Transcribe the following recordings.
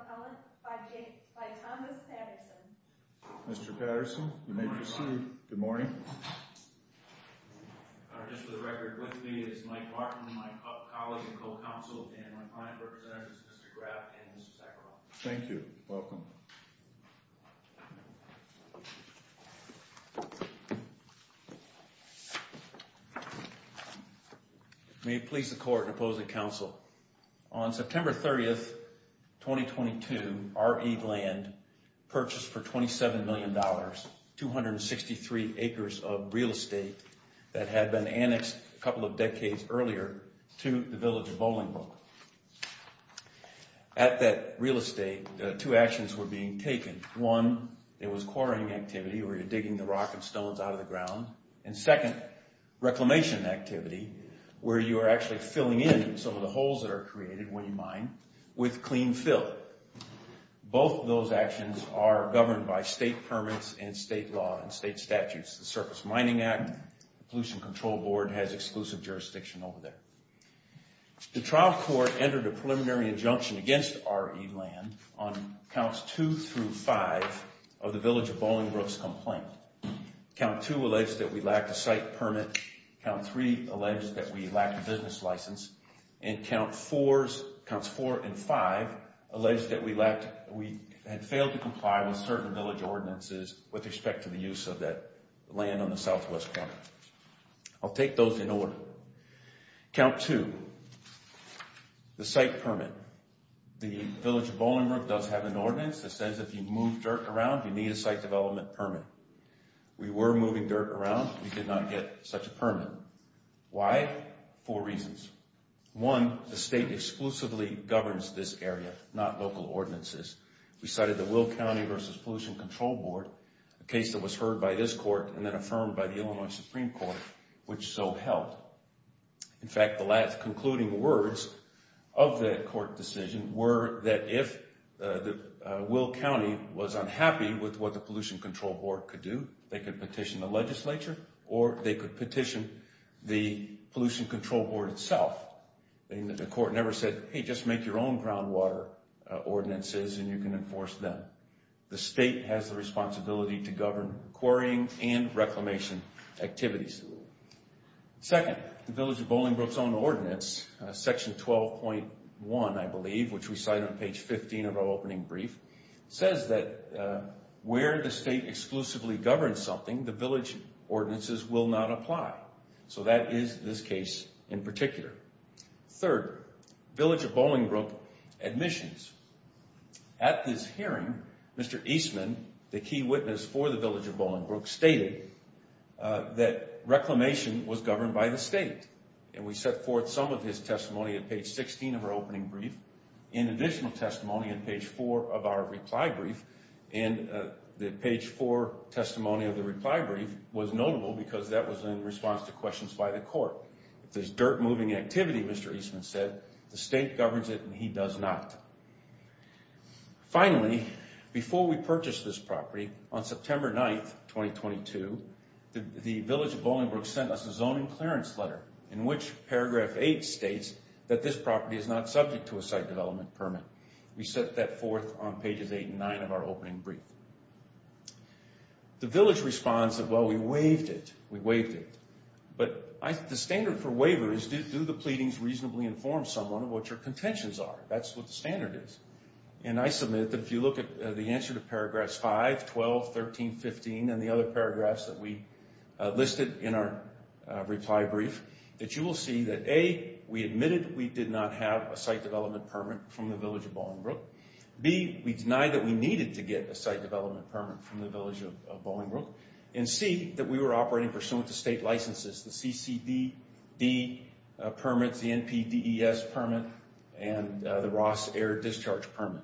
Appellant by Thomas Patterson. Mr. Patterson, you may proceed. Good morning. Just for the record, with me is Mike Martin, my colleague and co-counsel, and my client representatives, Mr. Graff and Mr. Sackerville. Thank you. Welcome. May it please the Court in opposing counsel, on September 30, 2022, RE Land purchased for $27 million, 263 acres of real estate that had been annexed a couple of decades earlier to the village of Bolingbrook. At that real estate, two actions were being taken. One, it was quarrying activity, where you're digging the rock and stones out of the ground. And second, reclamation activity, where you are actually filling in some of the holes that are created when you mine with clean fill. Both of those actions are governed by state permits and state law and state statutes. The Surface Mining Act, the Pollution Control Board has exclusive jurisdiction over there. The trial court entered a preliminary injunction against RE Land on Counts 2 through 5 of the village of Bolingbrook's complaint. Count 2 alleged that we lacked a site permit. Count 3 alleged that we lacked a business license. And Counts 4 and 5 alleged that we had failed to comply with certain village ordinances with respect to the use of that land on the southwest corner. I'll take those in order. Count 2, the site permit. The village of Bolingbrook does have an ordinance that says if you move dirt around, you need a site development permit. We were moving dirt around. We did not get such a permit. Why? Four reasons. One, the state exclusively governs this area, not local ordinances. We cited the Will County v. Pollution Control Board, a case that was heard by this court and then affirmed by the Illinois Supreme Court, which so helped. In fact, the last concluding words of that court decision were that if Will County was unhappy with what the Pollution Control Board could do, they could petition the legislature or they could petition the Pollution Control Board itself. The court never said, hey, just make your own groundwater ordinances and you can enforce them. The state has the responsibility to govern quarrying and reclamation activities. Second, the village of Bolingbrook's own ordinance, Section 12.1, I believe, which we cite on page 15 of our opening brief, says that where the state exclusively governs something, the village ordinances will not apply. So that is this case in particular. Third, village of Bolingbrook admissions. At this hearing, Mr. Eastman, the key witness for the village of Bolingbrook, stated that reclamation was governed by the state. And we set forth some of his testimony at page 16 of our opening brief. In additional testimony, in page 4 of our reply brief, and the page 4 testimony of the reply brief was notable because that was in response to questions by the court. If there's dirt moving activity, Mr. Eastman said, the state governs it and he does not. Finally, before we purchased this property, on September 9, 2022, the village of Bolingbrook sent us a zoning clearance letter, in which paragraph 8 states that this property is not subject to a site development permit. We set that forth on pages 8 and 9 of our opening brief. The village responds that, well, we waived it. We waived it. But the standard for waiver is do the pleadings reasonably inform someone of what your contentions are? That's what the standard is. And I submit that if you look at the answer to paragraphs 5, 12, 13, 15, and the other paragraphs that we listed in our reply brief, that you will see that, A, we admitted we did not have a site development permit from the village of Bolingbrook. B, we denied that we needed to get a site development permit from the village of Bolingbrook. And C, that we were operating pursuant to state licenses, the CCDD permits, the NPDES permit, and the Ross Air Discharge Permit.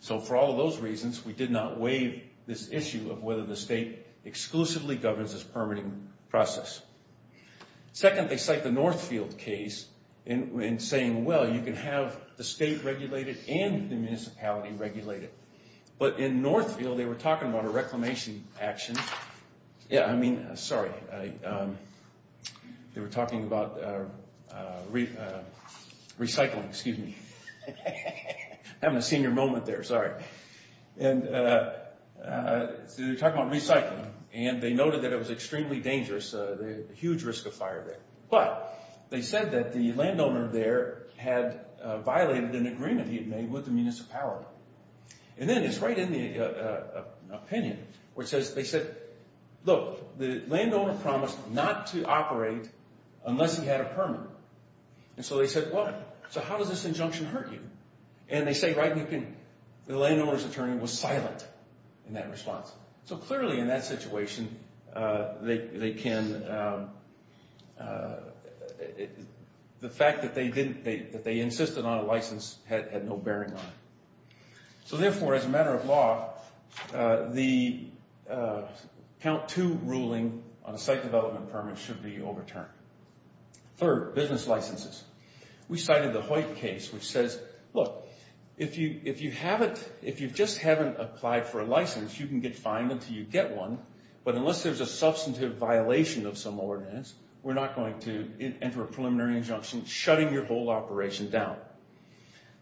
So for all of those reasons, we did not waive this issue of whether the state exclusively governs this permitting process. Second, they cite the Northfield case in saying, well, you can have the state regulated and the municipality regulated. But in Northfield, they were talking about a reclamation action. Yeah, I mean, sorry. They were talking about recycling. Excuse me. I'm having a senior moment there. Sorry. And they were talking about recycling. And they noted that it was extremely dangerous, a huge risk of fire there. But they said that the landowner there had violated an agreement he had made with the municipality. And then it's right in the opinion, which says they said, look, the landowner promised not to operate unless he had a permit. And so they said, well, so how does this injunction hurt you? And they say, right, the landowner's attorney was silent in that response. So clearly in that situation, the fact that they insisted on a license had no bearing on it. So therefore, as a matter of law, the count two ruling on a site development permit should be overturned. Third, business licenses. We cited the Hoyt case, which says, look, if you just haven't applied for a license, you can get fined until you get one. But unless there's a substantive violation of some ordinance, we're not going to enter a preliminary injunction shutting your whole operation down.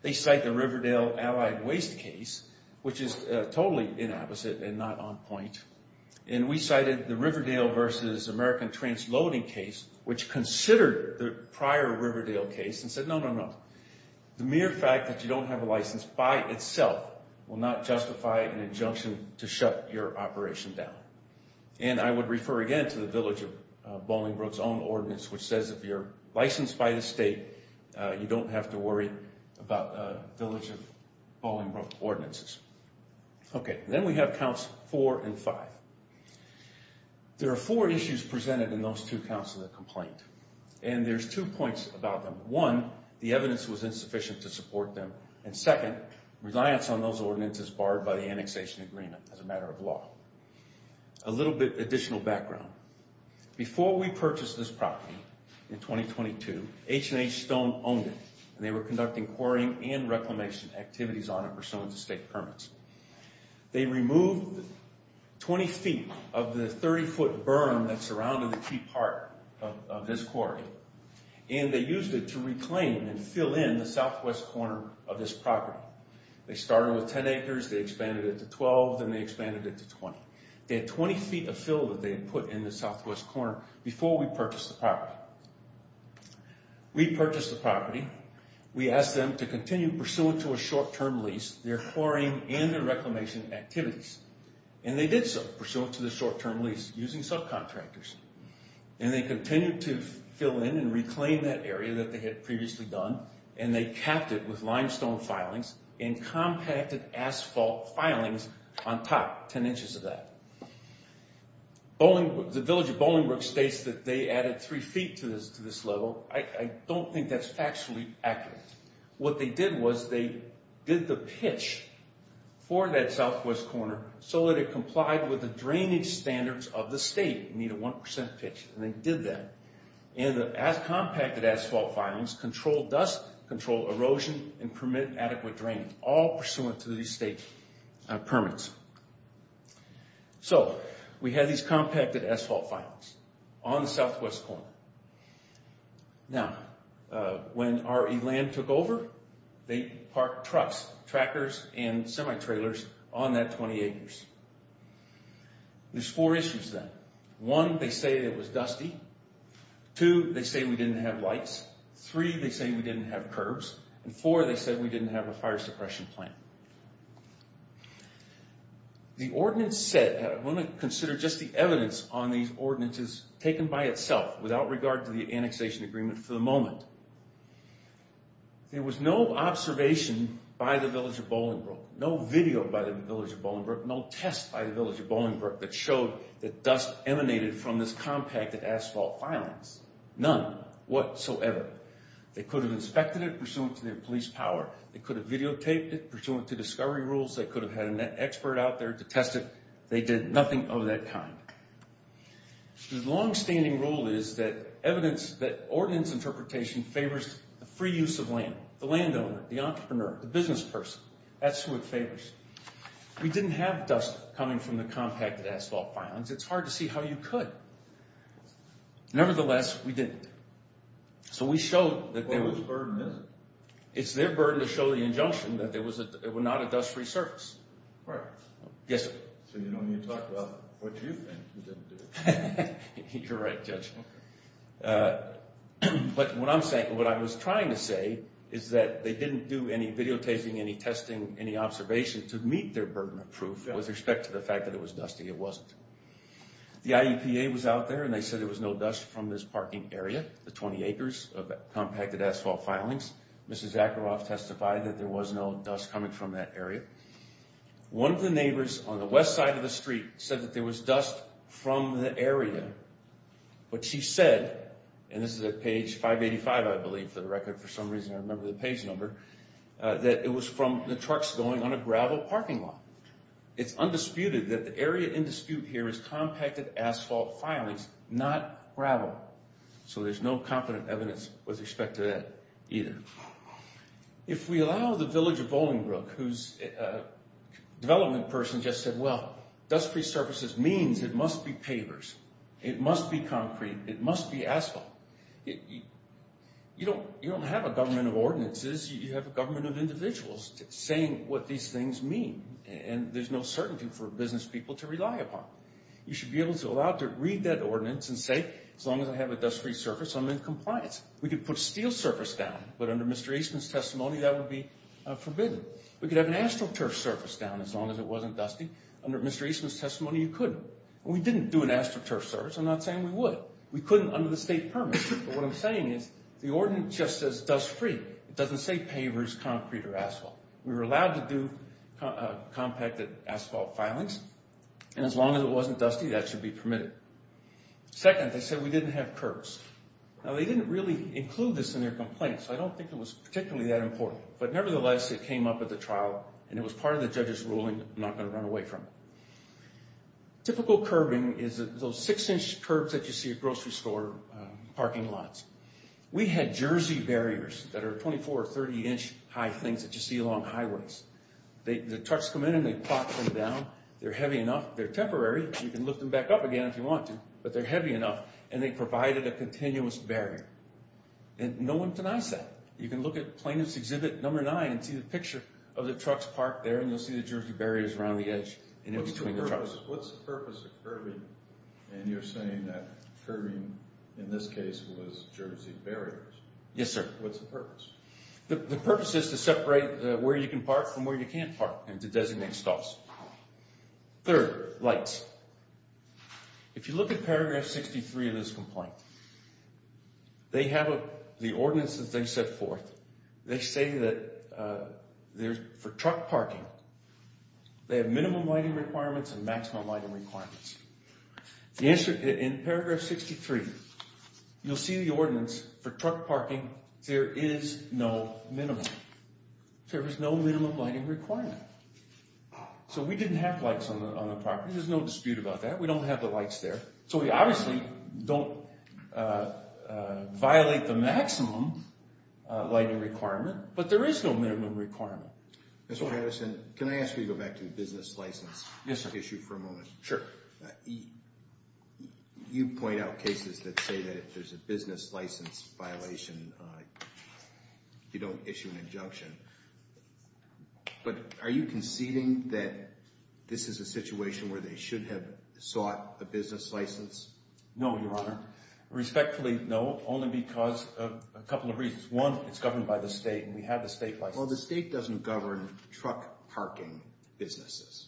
They cite the Riverdale Allied Waste case, which is totally inapposite and not on point. And we cited the Riverdale versus American Transloading case, which considered the prior Riverdale case and said, no, no, no. The mere fact that you don't have a license by itself will not justify an injunction to shut your operation down. And I would refer again to the Village of Bollingbrook's own ordinance, which says if you're licensed by the state, you don't have to worry about the Village of Bollingbrook ordinances. Okay, then we have counts four and five. There are four issues presented in those two counts of the complaint. And there's two points about them. One, the evidence was insufficient to support them. And second, reliance on those ordinances barred by the annexation agreement as a matter of law. A little bit additional background. Before we purchased this property in 2022, H&H Stone owned it. And they were conducting quarrying and reclamation activities on it pursuant to state permits. They removed 20 feet of the 30-foot berm that surrounded the key part of this quarry. And they used it to reclaim and fill in the southwest corner of this property. They started with 10 acres. They expanded it to 12. Then they expanded it to 20. They had 20 feet of fill that they had put in the southwest corner before we purchased the property. We purchased the property. We asked them to continue pursuant to a short-term lease their quarrying and their reclamation activities. And they did so pursuant to the short-term lease using subcontractors. And they continued to fill in and reclaim that area that they had previously done. And they capped it with limestone filings and compacted asphalt filings on top, 10 inches of that. The Village of Bolingbroke states that they added 3 feet to this level. I don't think that's actually accurate. What they did was they did the pitch for that southwest corner so that it complied with the drainage standards of the state. It needed a 1% pitch, and they did that. And the compacted asphalt filings control dust, control erosion, and permit adequate drainage, all pursuant to these state permits. So, we had these compacted asphalt filings on the southwest corner. Now, when RE Land took over, they parked trucks, trackers, and semi-trailers on that 20 acres. There's four issues then. One, they say it was dusty. Two, they say we didn't have lights. Three, they say we didn't have curbs. And four, they said we didn't have a fire suppression plant. The ordinance said, I want to consider just the evidence on these ordinances taken by itself without regard to the annexation agreement for the moment. There was no observation by the Village of Bolingbroke, no video by the Village of Bolingbroke, no test by the Village of Bolingbroke that showed that dust emanated from this compacted asphalt filings. None whatsoever. They could have inspected it pursuant to their police power. They could have videotaped it pursuant to discovery rules. They could have had an expert out there to test it. They did nothing of that kind. The long-standing rule is that evidence, that ordinance interpretation favors the free use of land. The landowner, the entrepreneur, the business person. That's who it favors. We didn't have dust coming from the compacted asphalt filings. It's hard to see how you could. Nevertheless, we didn't. So, we showed that there was... It's their burden to show the injunction that it was not a dust-free surface. Right. Yes, sir. So, you don't need to talk about what you think you didn't do. You're right, Judge. But what I'm saying, what I was trying to say is that they didn't do any videotaping, any testing, any observation to meet their burden of proof with respect to the fact that it was dusty. It wasn't. The IEPA was out there, and they said there was no dust from this parking area, the 20 acres of compacted asphalt filings. Mrs. Zacheroff testified that there was no dust coming from that area. One of the neighbors on the west side of the street said that there was dust from the area. But she said, and this is at page 585, I believe, for the record, for some reason I remember the page number, that it was from the trucks going on a gravel parking lot. It's undisputed that the area in dispute here is compacted asphalt filings, not gravel. So, there's no competent evidence with respect to that either. If we allow the village of Bolingbroke, whose development person just said, well, dust-free surfaces means it must be pavers, it must be concrete, it must be asphalt. You don't have a government of ordinances, you have a government of individuals saying what these things mean. And there's no certainty for business people to rely upon. You should be able to allow to read that ordinance and say, as long as I have a dust-free surface, I'm in compliance. We could put steel surface down, but under Mr. Eastman's testimony, that would be forbidden. We could have an astroturf surface down, as long as it wasn't dusty. Under Mr. Eastman's testimony, you couldn't. We didn't do an astroturf surface. I'm not saying we would. We couldn't under the state permit, but what I'm saying is the ordinance just says dust-free. It doesn't say pavers, concrete, or asphalt. We were allowed to do compacted asphalt filings, and as long as it wasn't dusty, that should be permitted. Second, they said we didn't have curbs. Now, they didn't really include this in their complaint, so I don't think it was particularly that important. But nevertheless, it came up at the trial, and it was part of the judge's ruling. I'm not going to run away from it. Typical curbing is those 6-inch curbs that you see at grocery store parking lots. We had Jersey barriers that are 24- or 30-inch high things that you see along highways. The trucks come in, and they plop them down. They're heavy enough. They're temporary. You can lift them back up again if you want to, but they're heavy enough, and they provided a continuous barrier. And no one denies that. You can look at Plaintiff's Exhibit No. 9 and see the picture of the trucks parked there, and you'll see the Jersey barriers around the edge and in between the trucks. What's the purpose of curbing? And you're saying that curbing, in this case, was Jersey barriers. Yes, sir. What's the purpose? The purpose is to separate where you can park from where you can't park and to designate stops. Third, lights. If you look at paragraph 63 of this complaint, they have the ordinance that they set forth. They say that for truck parking, they have minimum lighting requirements and maximum lighting requirements. In paragraph 63, you'll see the ordinance for truck parking, there is no minimum. There is no minimum lighting requirement. So we didn't have lights on the property. There's no dispute about that. We don't have the lights there. So we obviously don't violate the maximum lighting requirement, but there is no minimum requirement. Mr. Patterson, can I ask you to go back to the business license issue for a moment? Sure. You point out cases that say that if there's a business license violation, you don't issue an injunction. But are you conceding that this is a situation where they should have sought a business license? No, Your Honor. Respectfully, no. Only because of a couple of reasons. One, it's governed by the state, and we have the state license. Well, the state doesn't govern truck parking businesses.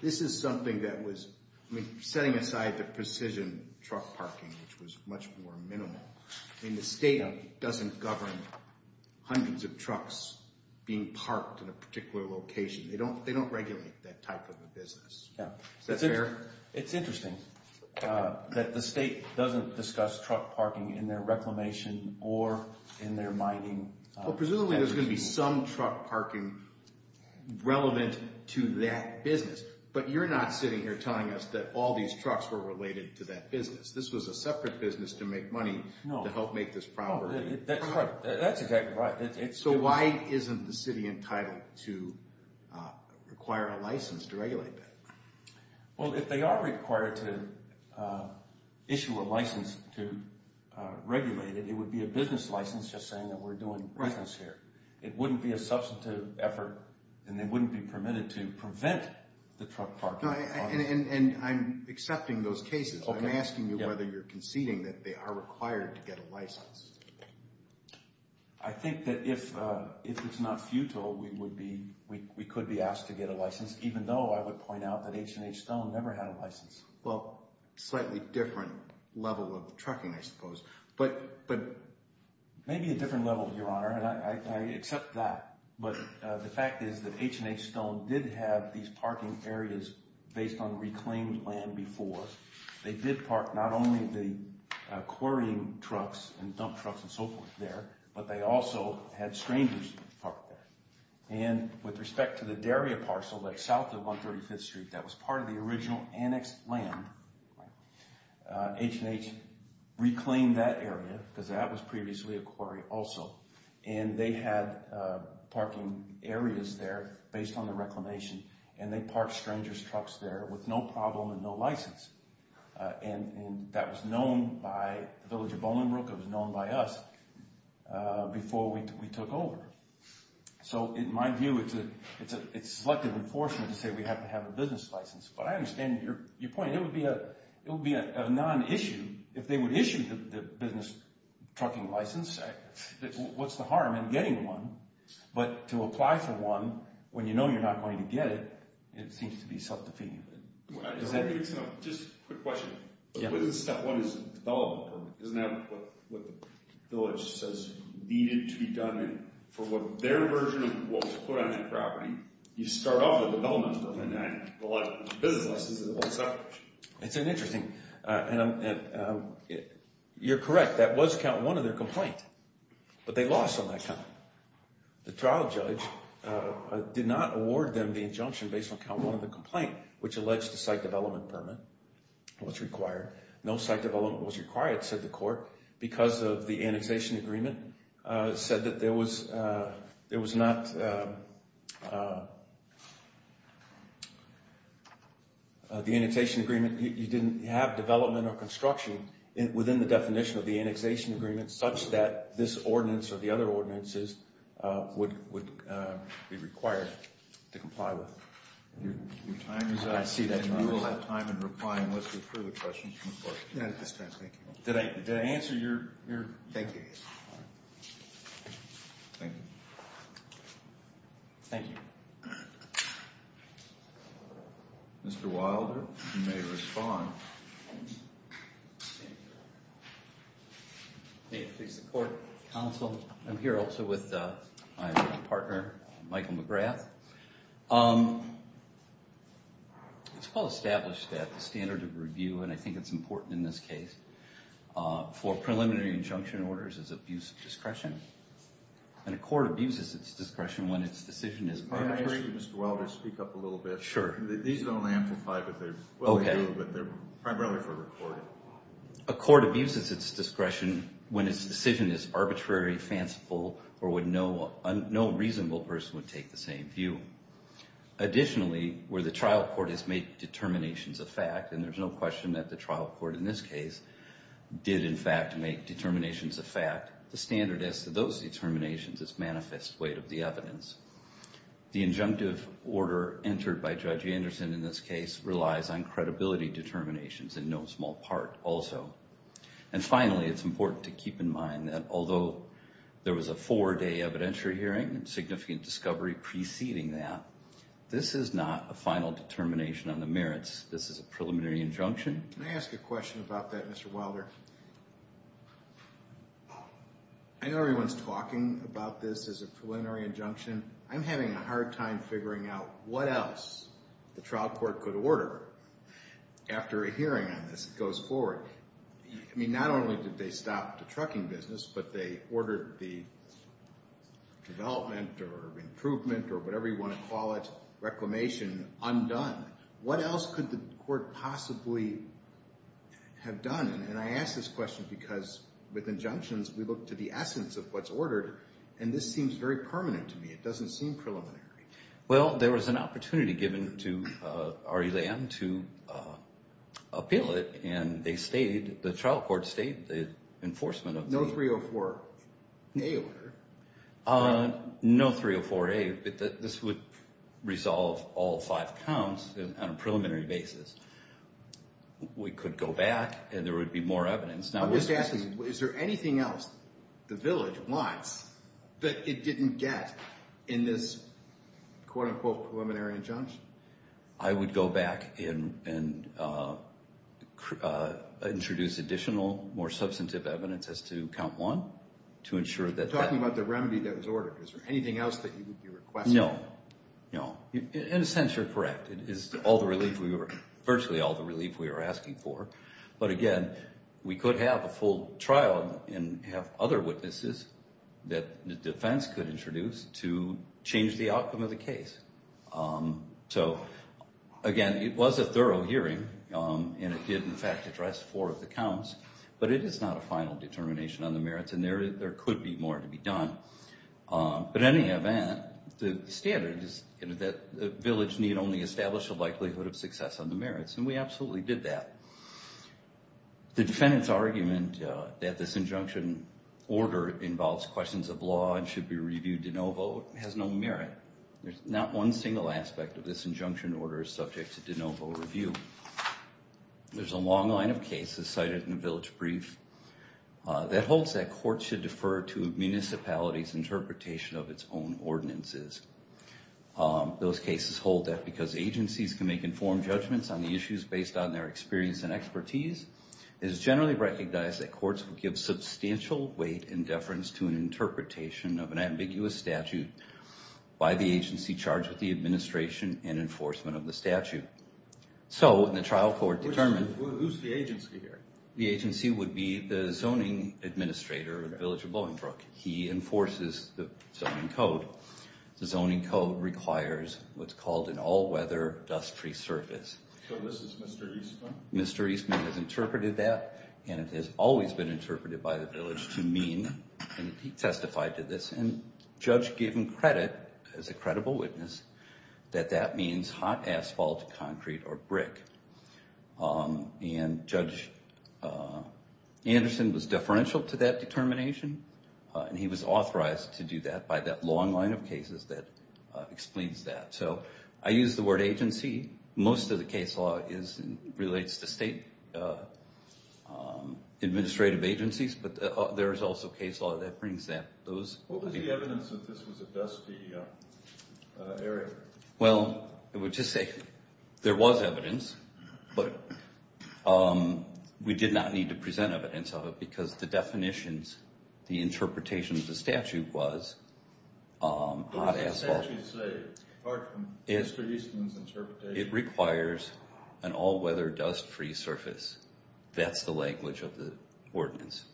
This is something that was – I mean, setting aside the precision truck parking, which was much more minimal, I mean, the state doesn't govern hundreds of trucks being parked in a particular location. They don't regulate that type of a business. Yeah. Is that fair? It's interesting that the state doesn't discuss truck parking in their reclamation or in their mining. Well, presumably, there's going to be some truck parking relevant to that business. But you're not sitting here telling us that all these trucks were related to that business. This was a separate business to make money to help make this property. That's exactly right. So why isn't the city entitled to require a license to regulate that? Well, if they are required to issue a license to regulate it, it would be a business license just saying that we're doing business here. It wouldn't be a substantive effort, and they wouldn't be permitted to prevent the truck parking. And I'm accepting those cases. I'm asking you whether you're conceding that they are required to get a license. I think that if it's not futile, we could be asked to get a license, even though I would point out that H&H Stone never had a license. Well, slightly different level of trucking, I suppose. Maybe a different level, Your Honor, and I accept that. But the fact is that H&H Stone did have these parking areas based on reclaimed land before. They did park not only the quarrying trucks and dump trucks and so forth there, but they also had strangers park there. And with respect to the dairy parcel that's south of 135th Street that was part of the original annexed land, H&H reclaimed that area because that was previously a quarry also. And they had parking areas there based on the reclamation, and they parked strangers' trucks there with no problem and no license. And that was known by the village of Bolingbroke. It was known by us before we took over. So in my view, it's selective and fortunate to say we have to have a business license. But I understand your point. It would be a non-issue if they would issue the business trucking license. What's the harm in getting one? But to apply for one when you know you're not going to get it, it seems to be self-defeating. Does that make sense? Just a quick question. Yeah. Isn't that what the village says needed to be done? And for their version of what was put on that property, you start off with a development permit, not a business license. It's a whole separate issue. It's interesting. And you're correct. That was count one of their complaint. But they lost on that count. The trial judge did not award them the injunction based on count one of the complaint, which alleged the site development permit was required. No site development was required, said the court, because of the annexation agreement. It said that there was not the annexation agreement. You didn't have development or construction within the definition of the annexation agreement, such that this ordinance or the other ordinances would be required to comply with. Your time is up. I see that. And you will have time in replying with the further questions from the court. That's fine. Thank you. Did I answer your? Thank you. All right. Thank you. Thank you. Mr. Wilder, you may respond. May it please the court, counsel. I'm here also with my partner, Michael McGrath. It's well established that the standard of review, and I think it's important in this case, for preliminary injunction orders is abuse of discretion. And a court abuses its discretion when its decision is mandatory. May I ask you, Mr. Wilder, to speak up a little bit? Sure. These don't amplify, but they're primarily for the court. A court abuses its discretion when its decision is arbitrary, fanciful, or when no reasonable person would take the same view. Additionally, where the trial court has made determinations of fact, and there's no question that the trial court in this case did, in fact, make determinations of fact, the standard is that those determinations is manifest weight of the evidence. The injunctive order entered by Judge Anderson in this case relies on credibility determinations in no small part also. And finally, it's important to keep in mind that although there was a four-day evidentiary hearing and significant discovery preceding that, this is not a final determination on the merits. This is a preliminary injunction. May I ask a question about that, Mr. Wilder? I know everyone's talking about this as a preliminary injunction. I'm having a hard time figuring out what else the trial court could order after a hearing on this goes forward. I mean, not only did they stop the trucking business, but they ordered the development or improvement or whatever you want to call it, reclamation, undone. What else could the court possibly have done? And I ask this question because with injunctions, we look to the essence of what's ordered, and this seems very permanent to me. It doesn't seem preliminary. Well, there was an opportunity given to RE-LAM to appeal it, and the trial court stated the enforcement of the— No 304-A order. No 304-A, but this would resolve all five counts on a preliminary basis. We could go back, and there would be more evidence. I'm just asking, is there anything else the village wants that it didn't get in this quote-unquote preliminary injunction? I would go back and introduce additional, more substantive evidence as to count one to ensure that that— You're talking about the remedy that was ordered. Is there anything else that you would be requesting? No, no. In a sense, you're correct. It is virtually all the relief we were asking for, but, again, we could have a full trial and have other witnesses that the defense could introduce to change the outcome of the case. So, again, it was a thorough hearing, and it did, in fact, address four of the counts, but it is not a final determination on the merits, and there could be more to be done. But, in any event, the standard is that the village need only establish a likelihood of success on the merits, and we absolutely did that. The defendant's argument that this injunction order involves questions of law and should be reviewed de novo has no merit. Not one single aspect of this injunction order is subject to de novo review. There's a long line of cases cited in the village brief that holds that courts should defer to municipalities' interpretation of its own ordinances. Those cases hold that because agencies can make informed judgments on the issues based on their experience and expertise, it is generally recognized that courts will give substantial weight and deference to an interpretation of an ambiguous statute by the agency charged with the administration and enforcement of the statute. So, the trial court determined... Who's the agency here? The agency would be the zoning administrator of the village of Bloomingbrook. He enforces the zoning code. The zoning code requires what's called an all-weather dust-free surface. So this is Mr. Eastman? Mr. Eastman has interpreted that, and it has always been interpreted by the village to mean, and he testified to this, and Judge gave him credit as a credible witness that that means hot asphalt, concrete, or brick. And Judge Anderson was deferential to that determination, and he was authorized to do that by that long line of cases that explains that. So, I use the word agency. Most of the case law relates to state administrative agencies, but there is also case law that brings that. What was the evidence that this was a dusty area? Well, I would just say there was evidence, but we did not need to present evidence of it because the definitions, the interpretation of the statute was hot asphalt. What does the statute say, apart from Mr. Eastman's interpretation? It requires an all-weather dust-free surface. That's the language of the ordinance.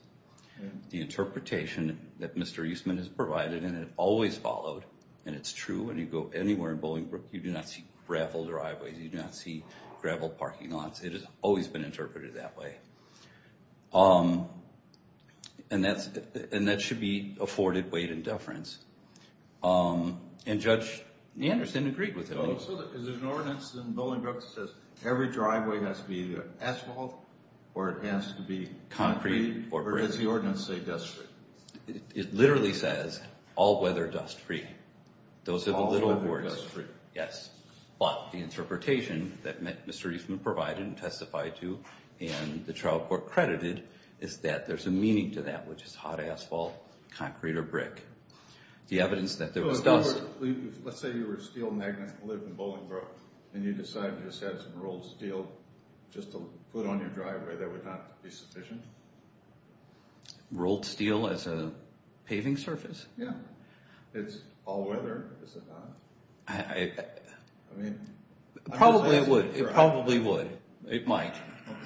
The interpretation that Mr. Eastman has provided, and it always followed, and it's true when you go anywhere in Bolingbrook, you do not see graveled driveways, you do not see graveled parking lots. It has always been interpreted that way. And that should be afforded weight and deference. And Judge Anderson agreed with it. So, is there an ordinance in Bolingbrook that says every driveway has to be asphalt, or it has to be concrete, or does the ordinance say dust-free? It literally says all-weather dust-free. All-weather dust-free. Yes. But the interpretation that Mr. Eastman provided and testified to and the trial court credited is that there's a meaning to that, which is hot asphalt, concrete, or brick. The evidence that there was dust. Let's say you were a steel magnate and lived in Bolingbrook, and you decided you just had some rolled steel just to put on your driveway. That would not be sufficient? Rolled steel as a paving surface? Yeah. It's all-weather, is it not? Probably it would. It probably would. It might.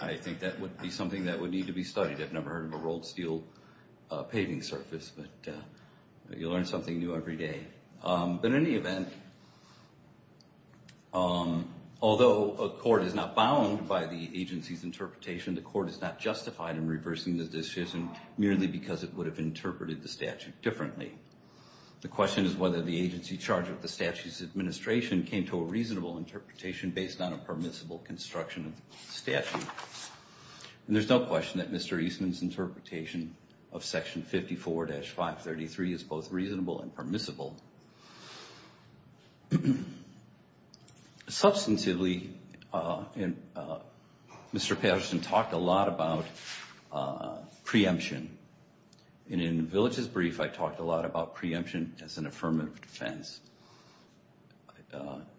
I think that would be something that would need to be studied. I've never heard of a rolled steel paving surface. But you learn something new every day. But in any event, although a court is not bound by the agency's interpretation, the court is not justified in reversing the decision merely because it would have interpreted the statute differently. The question is whether the agency charged with the statute's administration came to a reasonable interpretation based on a permissible construction of the statute. And there's no question that Mr. Eastman's interpretation of Section 54-533 is both reasonable and permissible. Substantively, Mr. Patterson talked a lot about preemption. And in the village's brief, I talked a lot about preemption as an affirmative defense.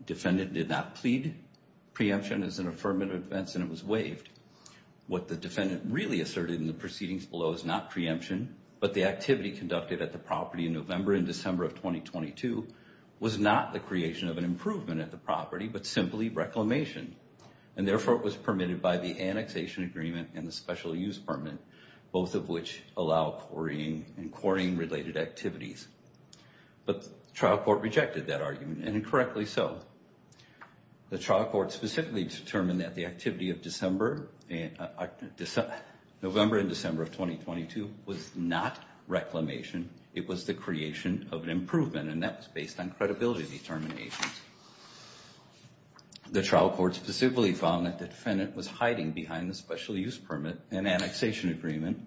Defendant did not plead preemption as an affirmative defense, and it was waived. What the defendant really asserted in the proceedings below is not preemption, but the activity conducted at the property in November and December of 2022 was not the creation of an improvement at the property, but simply reclamation. And therefore, it was permitted by the annexation agreement and the special use permit, both of which allow quarrying and quarrying-related activities. But the trial court rejected that argument, and incorrectly so. The trial court specifically determined that the activity of November and December of 2022 was not reclamation, it was the creation of an improvement, and that was based on credibility determinations. The trial court specifically found that the defendant was hiding behind the special use permit and annexation agreement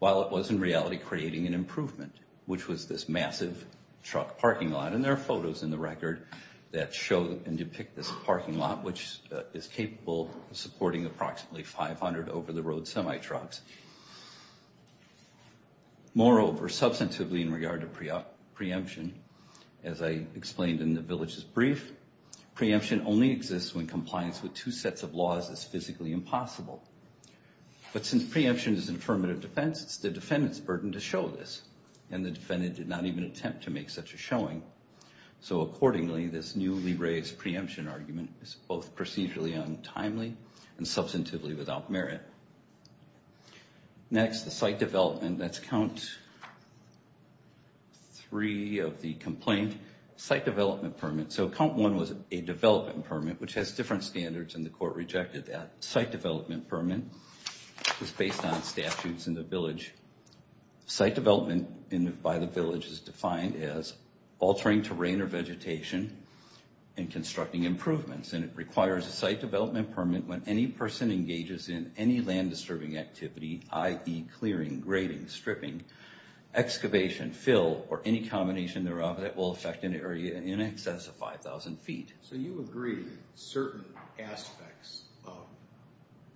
while it was in reality creating an improvement, which was this massive truck parking lot. And there are photos in the record that show and depict this parking lot, which is capable of supporting approximately 500 over-the-road semi-trucks. Moreover, substantively in regard to preemption, as I explained in the village's brief, preemption only exists when compliance with two sets of laws is physically impossible. But since preemption is an affirmative defense, it's the defendant's burden to show this. And the defendant did not even attempt to make such a showing. So accordingly, this newly raised preemption argument is both procedurally untimely and substantively without merit. Next, the site development. That's count three of the complaint. Site development permit. So count one was a development permit, which has different standards, and the court rejected that. Site development permit is based on statutes in the village. Site development by the village is defined as altering terrain or vegetation and constructing improvements. And it requires a site development permit when any person engages in any land-disturbing activity, i.e. clearing, grading, stripping, excavation, fill, or any combination thereof that will affect an area in excess of 5,000 feet. So you agree certain aspects of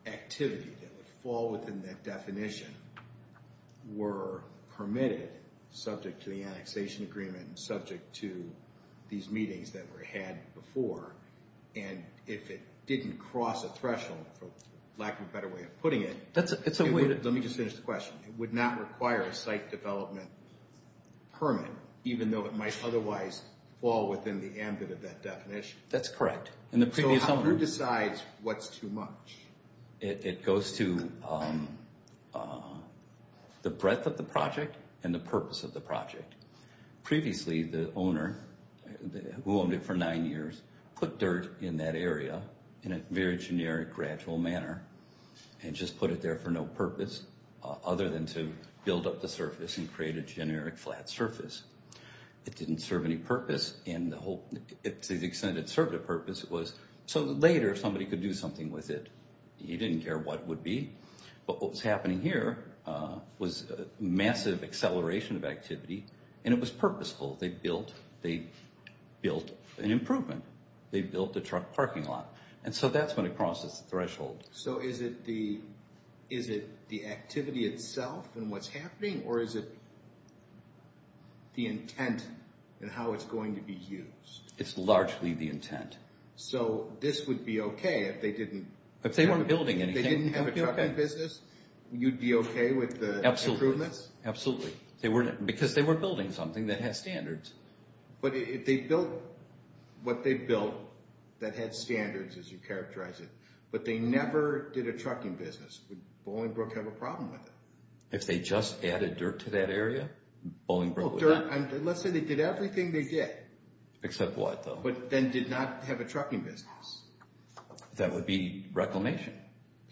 activity that would fall within that definition were permitted subject to the annexation agreement and subject to these meetings that were had before. And if it didn't cross a threshold, for lack of a better way of putting it... That's a way to... Let me just finish the question. It would not require a site development permit, even though it might otherwise fall within the ambit of that definition? That's correct. So who decides what's too much? It goes to the breadth of the project and the purpose of the project. Previously, the owner, who owned it for nine years, put dirt in that area in a very generic, gradual manner and just put it there for no purpose other than to build up the surface and create a generic flat surface. It didn't serve any purpose, and to the extent it served a purpose, it was so that later somebody could do something with it. He didn't care what it would be. But what was happening here was a massive acceleration of activity, and it was purposeful. They built an improvement. They built a truck parking lot. And so that's when it crosses the threshold. So is it the activity itself and what's happening, or is it the intent and how it's going to be used? It's largely the intent. So this would be okay if they didn't have a trucking business? You'd be okay with the improvements? Absolutely. Because they were building something that had standards. But they built what they built that had standards, as you characterize it, but they never did a trucking business. Would Bolingbroke have a problem with it? If they just added dirt to that area, Bolingbroke would not. Let's say they did everything they did. Except what, though? But then did not have a trucking business. That would be reclamation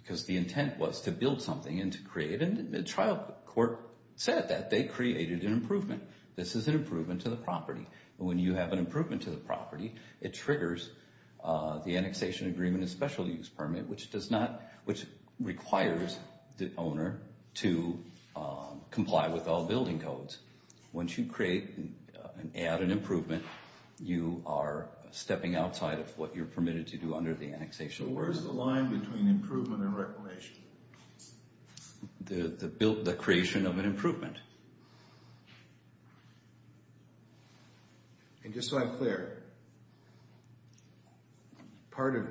because the intent was to build something and to create it, and the trial court said that. They created an improvement. This is an improvement to the property. And when you have an improvement to the property, it triggers the annexation agreement and special use permit, which requires the owner to comply with all building codes. Once you create and add an improvement, you are stepping outside of what you're permitted to do under the annexation. Where is the line between improvement and reclamation? The creation of an improvement. And just so I'm clear, part of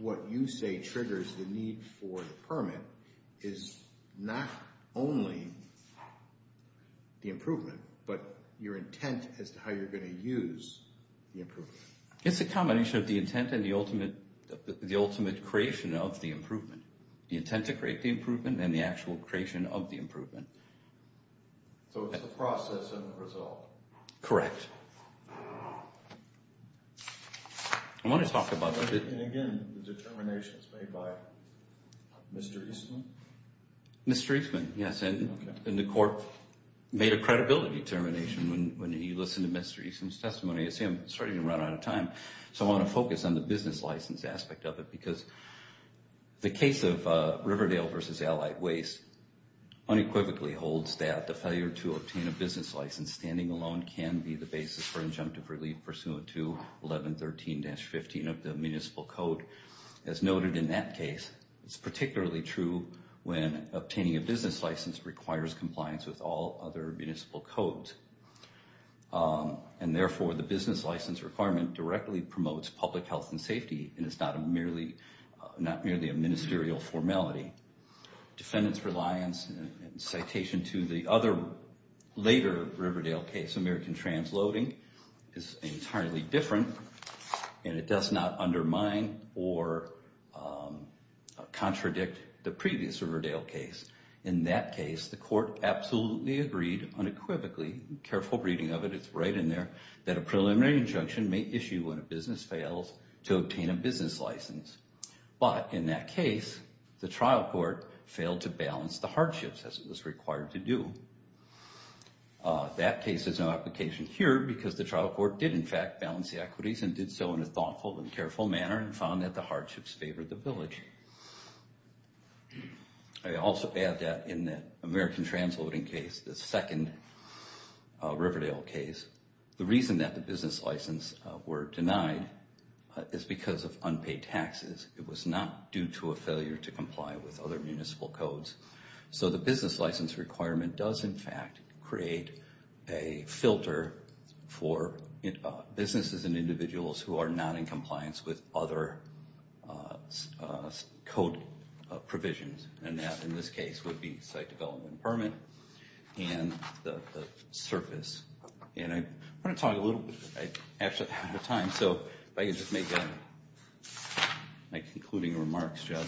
what you say triggers the need for the permit is not only the improvement, but your intent as to how you're going to use the improvement. It's a combination of the intent and the ultimate creation of the improvement. The intent to create the improvement and the actual creation of the improvement. So it's the process and the result. Correct. I want to talk about that. And again, the determination is made by Mr. Eastman? Mr. Eastman, yes, and the court made a credibility determination when he listened to Mr. Eastman's testimony. You see, I'm starting to run out of time, so I want to focus on the business license aspect of it because the case of Riverdale v. Allied Waste, unequivocally holds that the failure to obtain a business license standing alone can be the basis for injunctive relief pursuant to 1113-15 of the municipal code. As noted in that case, it's particularly true when obtaining a business license requires compliance with all other municipal codes. And therefore, the business license requirement directly promotes public health and safety and is not merely a ministerial formality. Defendant's reliance and citation to the other later Riverdale case, American Transloading, is entirely different and it does not undermine or contradict the previous Riverdale case. In that case, the court absolutely agreed unequivocally, careful reading of it, it's right in there, that a preliminary injunction may issue when a business fails to obtain a business license. But in that case, the trial court failed to balance the hardships as it was required to do. That case has no application here because the trial court did in fact balance the equities and did so in a thoughtful and careful manner and found that the hardships favored the village. I also add that in the American Transloading case, the second Riverdale case, the reason that the business licenses were denied is because of unpaid taxes. It was not due to a failure to comply with other municipal codes. So the business license requirement does in fact create a filter for businesses and individuals who are not in compliance with other code provisions and that in this case would be site development permit and the surface. And I want to talk a little bit, I actually have the time, so if I could just make my concluding remarks, Judge.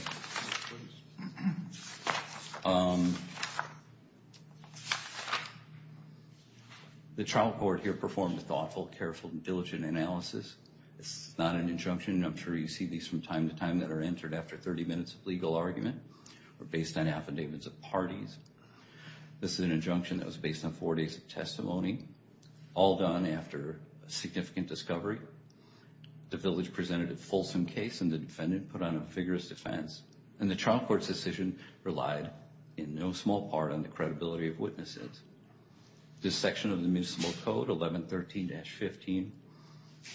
The trial court here performed a thoughtful, careful, diligent analysis. It's not an injunction. I'm sure you see these from time to time that are entered after 30 minutes of legal argument or based on affidavits of parties. This is an injunction that was based on four days of testimony, all done after a significant discovery. The village presented a fulsome case and the defendant put on a vigorous defense and the trial court's decision relied in no small part on the credibility of witnesses. This section of the municipal code, 1113-15,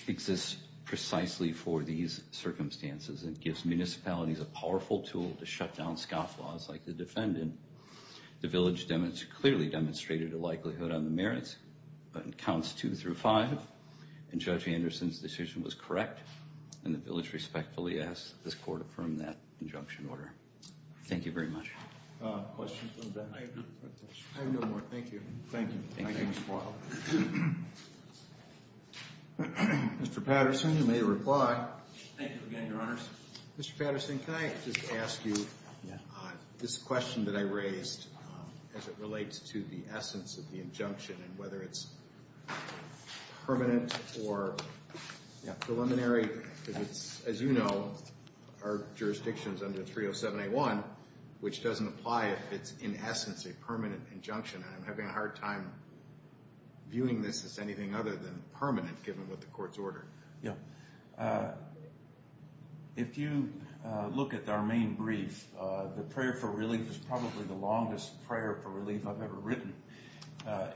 exists precisely for these circumstances and gives municipalities a powerful tool to shut down scoff laws like the defendant. The village clearly demonstrated a likelihood on the merits on counts two through five, and Judge Anderson's decision was correct and the village respectfully asks that this court affirm that injunction order. Thank you very much. Questions? I have no more. Thank you. Thank you. Thank you. Mr. Patterson, you may reply. Thank you again, Your Honors. Mr. Patterson, can I just ask you this question that I raised as it relates to the essence of the injunction and whether it's permanent or preliminary? As you know, our jurisdiction is under 307-A1, which doesn't apply if it's in essence a permanent injunction, and I'm having a hard time viewing this as anything other than permanent given what the court's ordered. Yeah. If you look at our main brief, the prayer for relief is probably the longest prayer for relief I've ever written,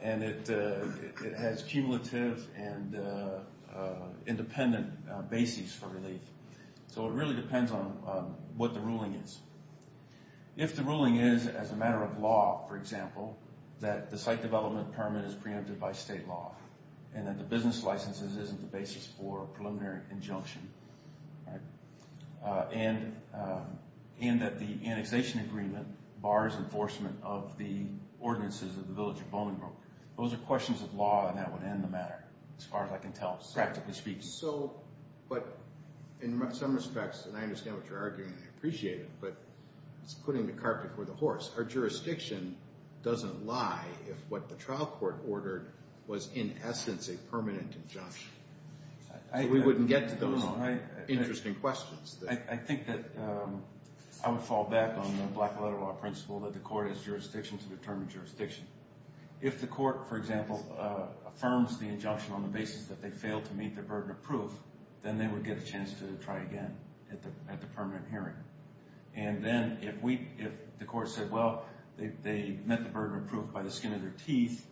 and it has cumulative and independent bases for relief. So it really depends on what the ruling is. If the ruling is, as a matter of law, for example, that the site development permit is preempted by state law and that the business licenses isn't the basis for a preliminary injunction, and that the annexation agreement bars enforcement of the ordinances of the Village of Bolingbroke, those are questions of law, and that would end the matter, as far as I can tell, practically speaking. But in some respects, and I understand what you're arguing, and I appreciate it, but it's putting the carpet before the horse. Our jurisdiction doesn't lie if what the trial court ordered was in essence a permanent injunction. We wouldn't get to those interesting questions. I think that I would fall back on the black-letter law principle that the court has jurisdiction to determine jurisdiction. If the court, for example, affirms the injunction on the basis that they failed to meet the burden of proof, then they would get a chance to try again at the permanent hearing. And then if the court said, well, they met the burden of proof by the skin of their teeth,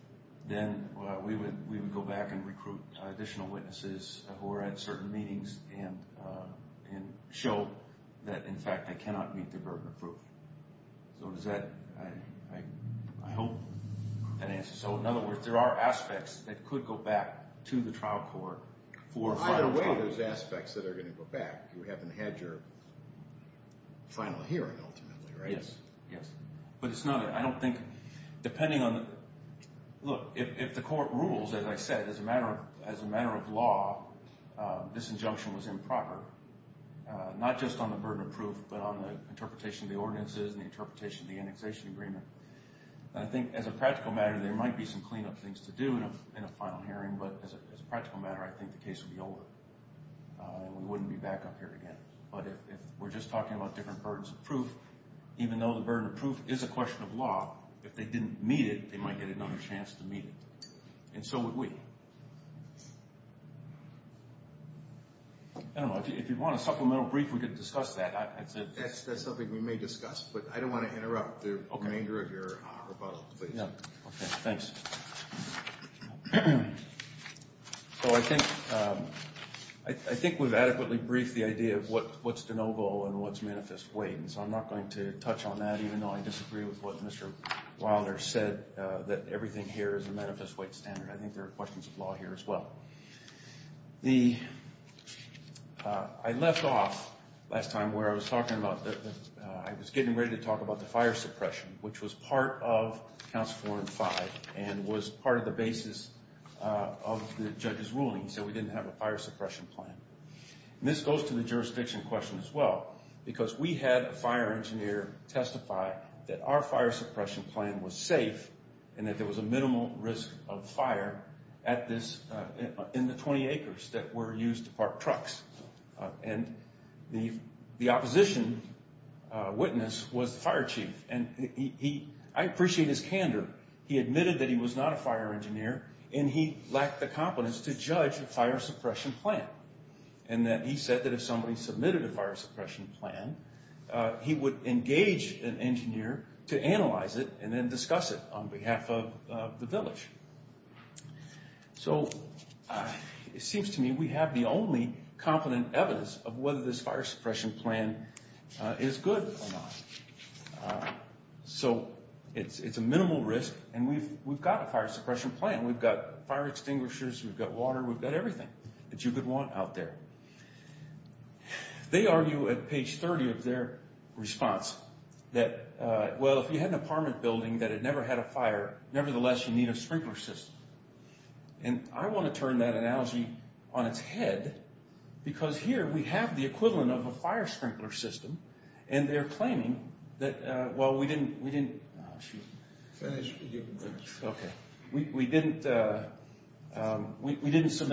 then we would go back and recruit additional witnesses who are at certain meetings and show that, in fact, they cannot meet the burden of proof. So does that... I hope that answers... So in other words, there are aspects that could go back to the trial court for a final trial. Well, either way, there's aspects that are going to go back if you haven't had your final hearing, ultimately, right? Yes, yes. But it's not... I don't think... Depending on... Look, if the court rules, as I said, as a matter of law, this injunction was improper, not just on the burden of proof, but on the interpretation of the ordinances and the interpretation of the annexation agreement. And I think, as a practical matter, there might be some cleanup things to do in a final hearing, but as a practical matter, I think the case would be over and we wouldn't be back up here again. But if we're just talking about different burdens of proof, even though the burden of proof is a question of law, if they didn't meet it, they might get another chance to meet it. And so would we. I don't know. If you want a supplemental brief, we could discuss that. That's something we may discuss, but I don't want to interrupt the remainder of your rebuttal, please. Yeah. Okay. Thanks. So I think we've adequately briefed the idea of what's de novo and what's manifest weight, and so I'm not going to touch on that, even though I disagree with what Mr. Wilder said, that everything here is a manifest weight standard. I think there are questions of law here as well. I left off last time where I was getting ready to talk about the fire suppression, which was part of Council 4 and 5 and was part of the basis of the judge's ruling. He said we didn't have a fire suppression plan. And this goes to the jurisdiction question as well, because we had a fire engineer testify that our fire suppression plan was safe and that there was a minimal risk of fire in the 20 acres that were used to park trucks. And the opposition witness was the fire chief, and I appreciate his candor. He admitted that he was not a fire engineer, and he lacked the competence to judge a fire suppression plan, and that he said that if somebody submitted a fire suppression plan, he would engage an engineer to analyze it and then discuss it on behalf of the village. So it seems to me we have the only competent evidence of whether this fire suppression plan is good or not. So it's a minimal risk, and we've got a fire suppression plan. We've got fire extinguishers. We've got water. We've got everything that you could want out there. They argue at page 30 of their response that, well, if you had an apartment building that had never had a fire, nevertheless you need a sprinkler system. And I want to turn that analogy on its head, because here we have the equivalent of a fire sprinkler system, and they're claiming that, well, we didn't submit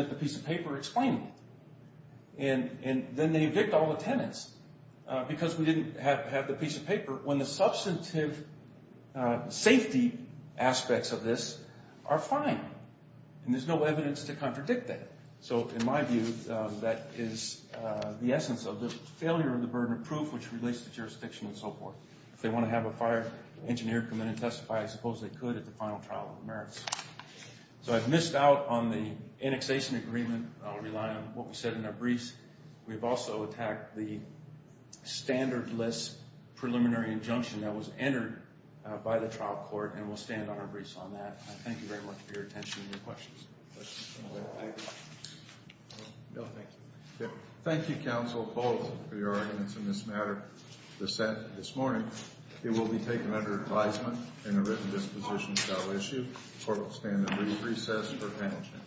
the piece of paper explaining it. And then they evict all the tenants because we didn't have the piece of paper, when the substantive safety aspects of this are fine, and there's no evidence to contradict that. So in my view, that is the essence of the failure of the burden of proof which relates to jurisdiction and so forth. If they want to have a fire engineer come in and testify, I suppose they could at the final trial of the merits. So I've missed out on the annexation agreement. I'll rely on what was said in our briefs. We've also attacked the standardless preliminary injunction that was entered by the trial court, and we'll stand on our briefs on that. I thank you very much for your attention and your questions. Thank you, Counsel Bogle, for your arguments in this matter. The Senate, this morning, it will be taken under advisement and a written disposition shall issue for a standardly recess for penalty.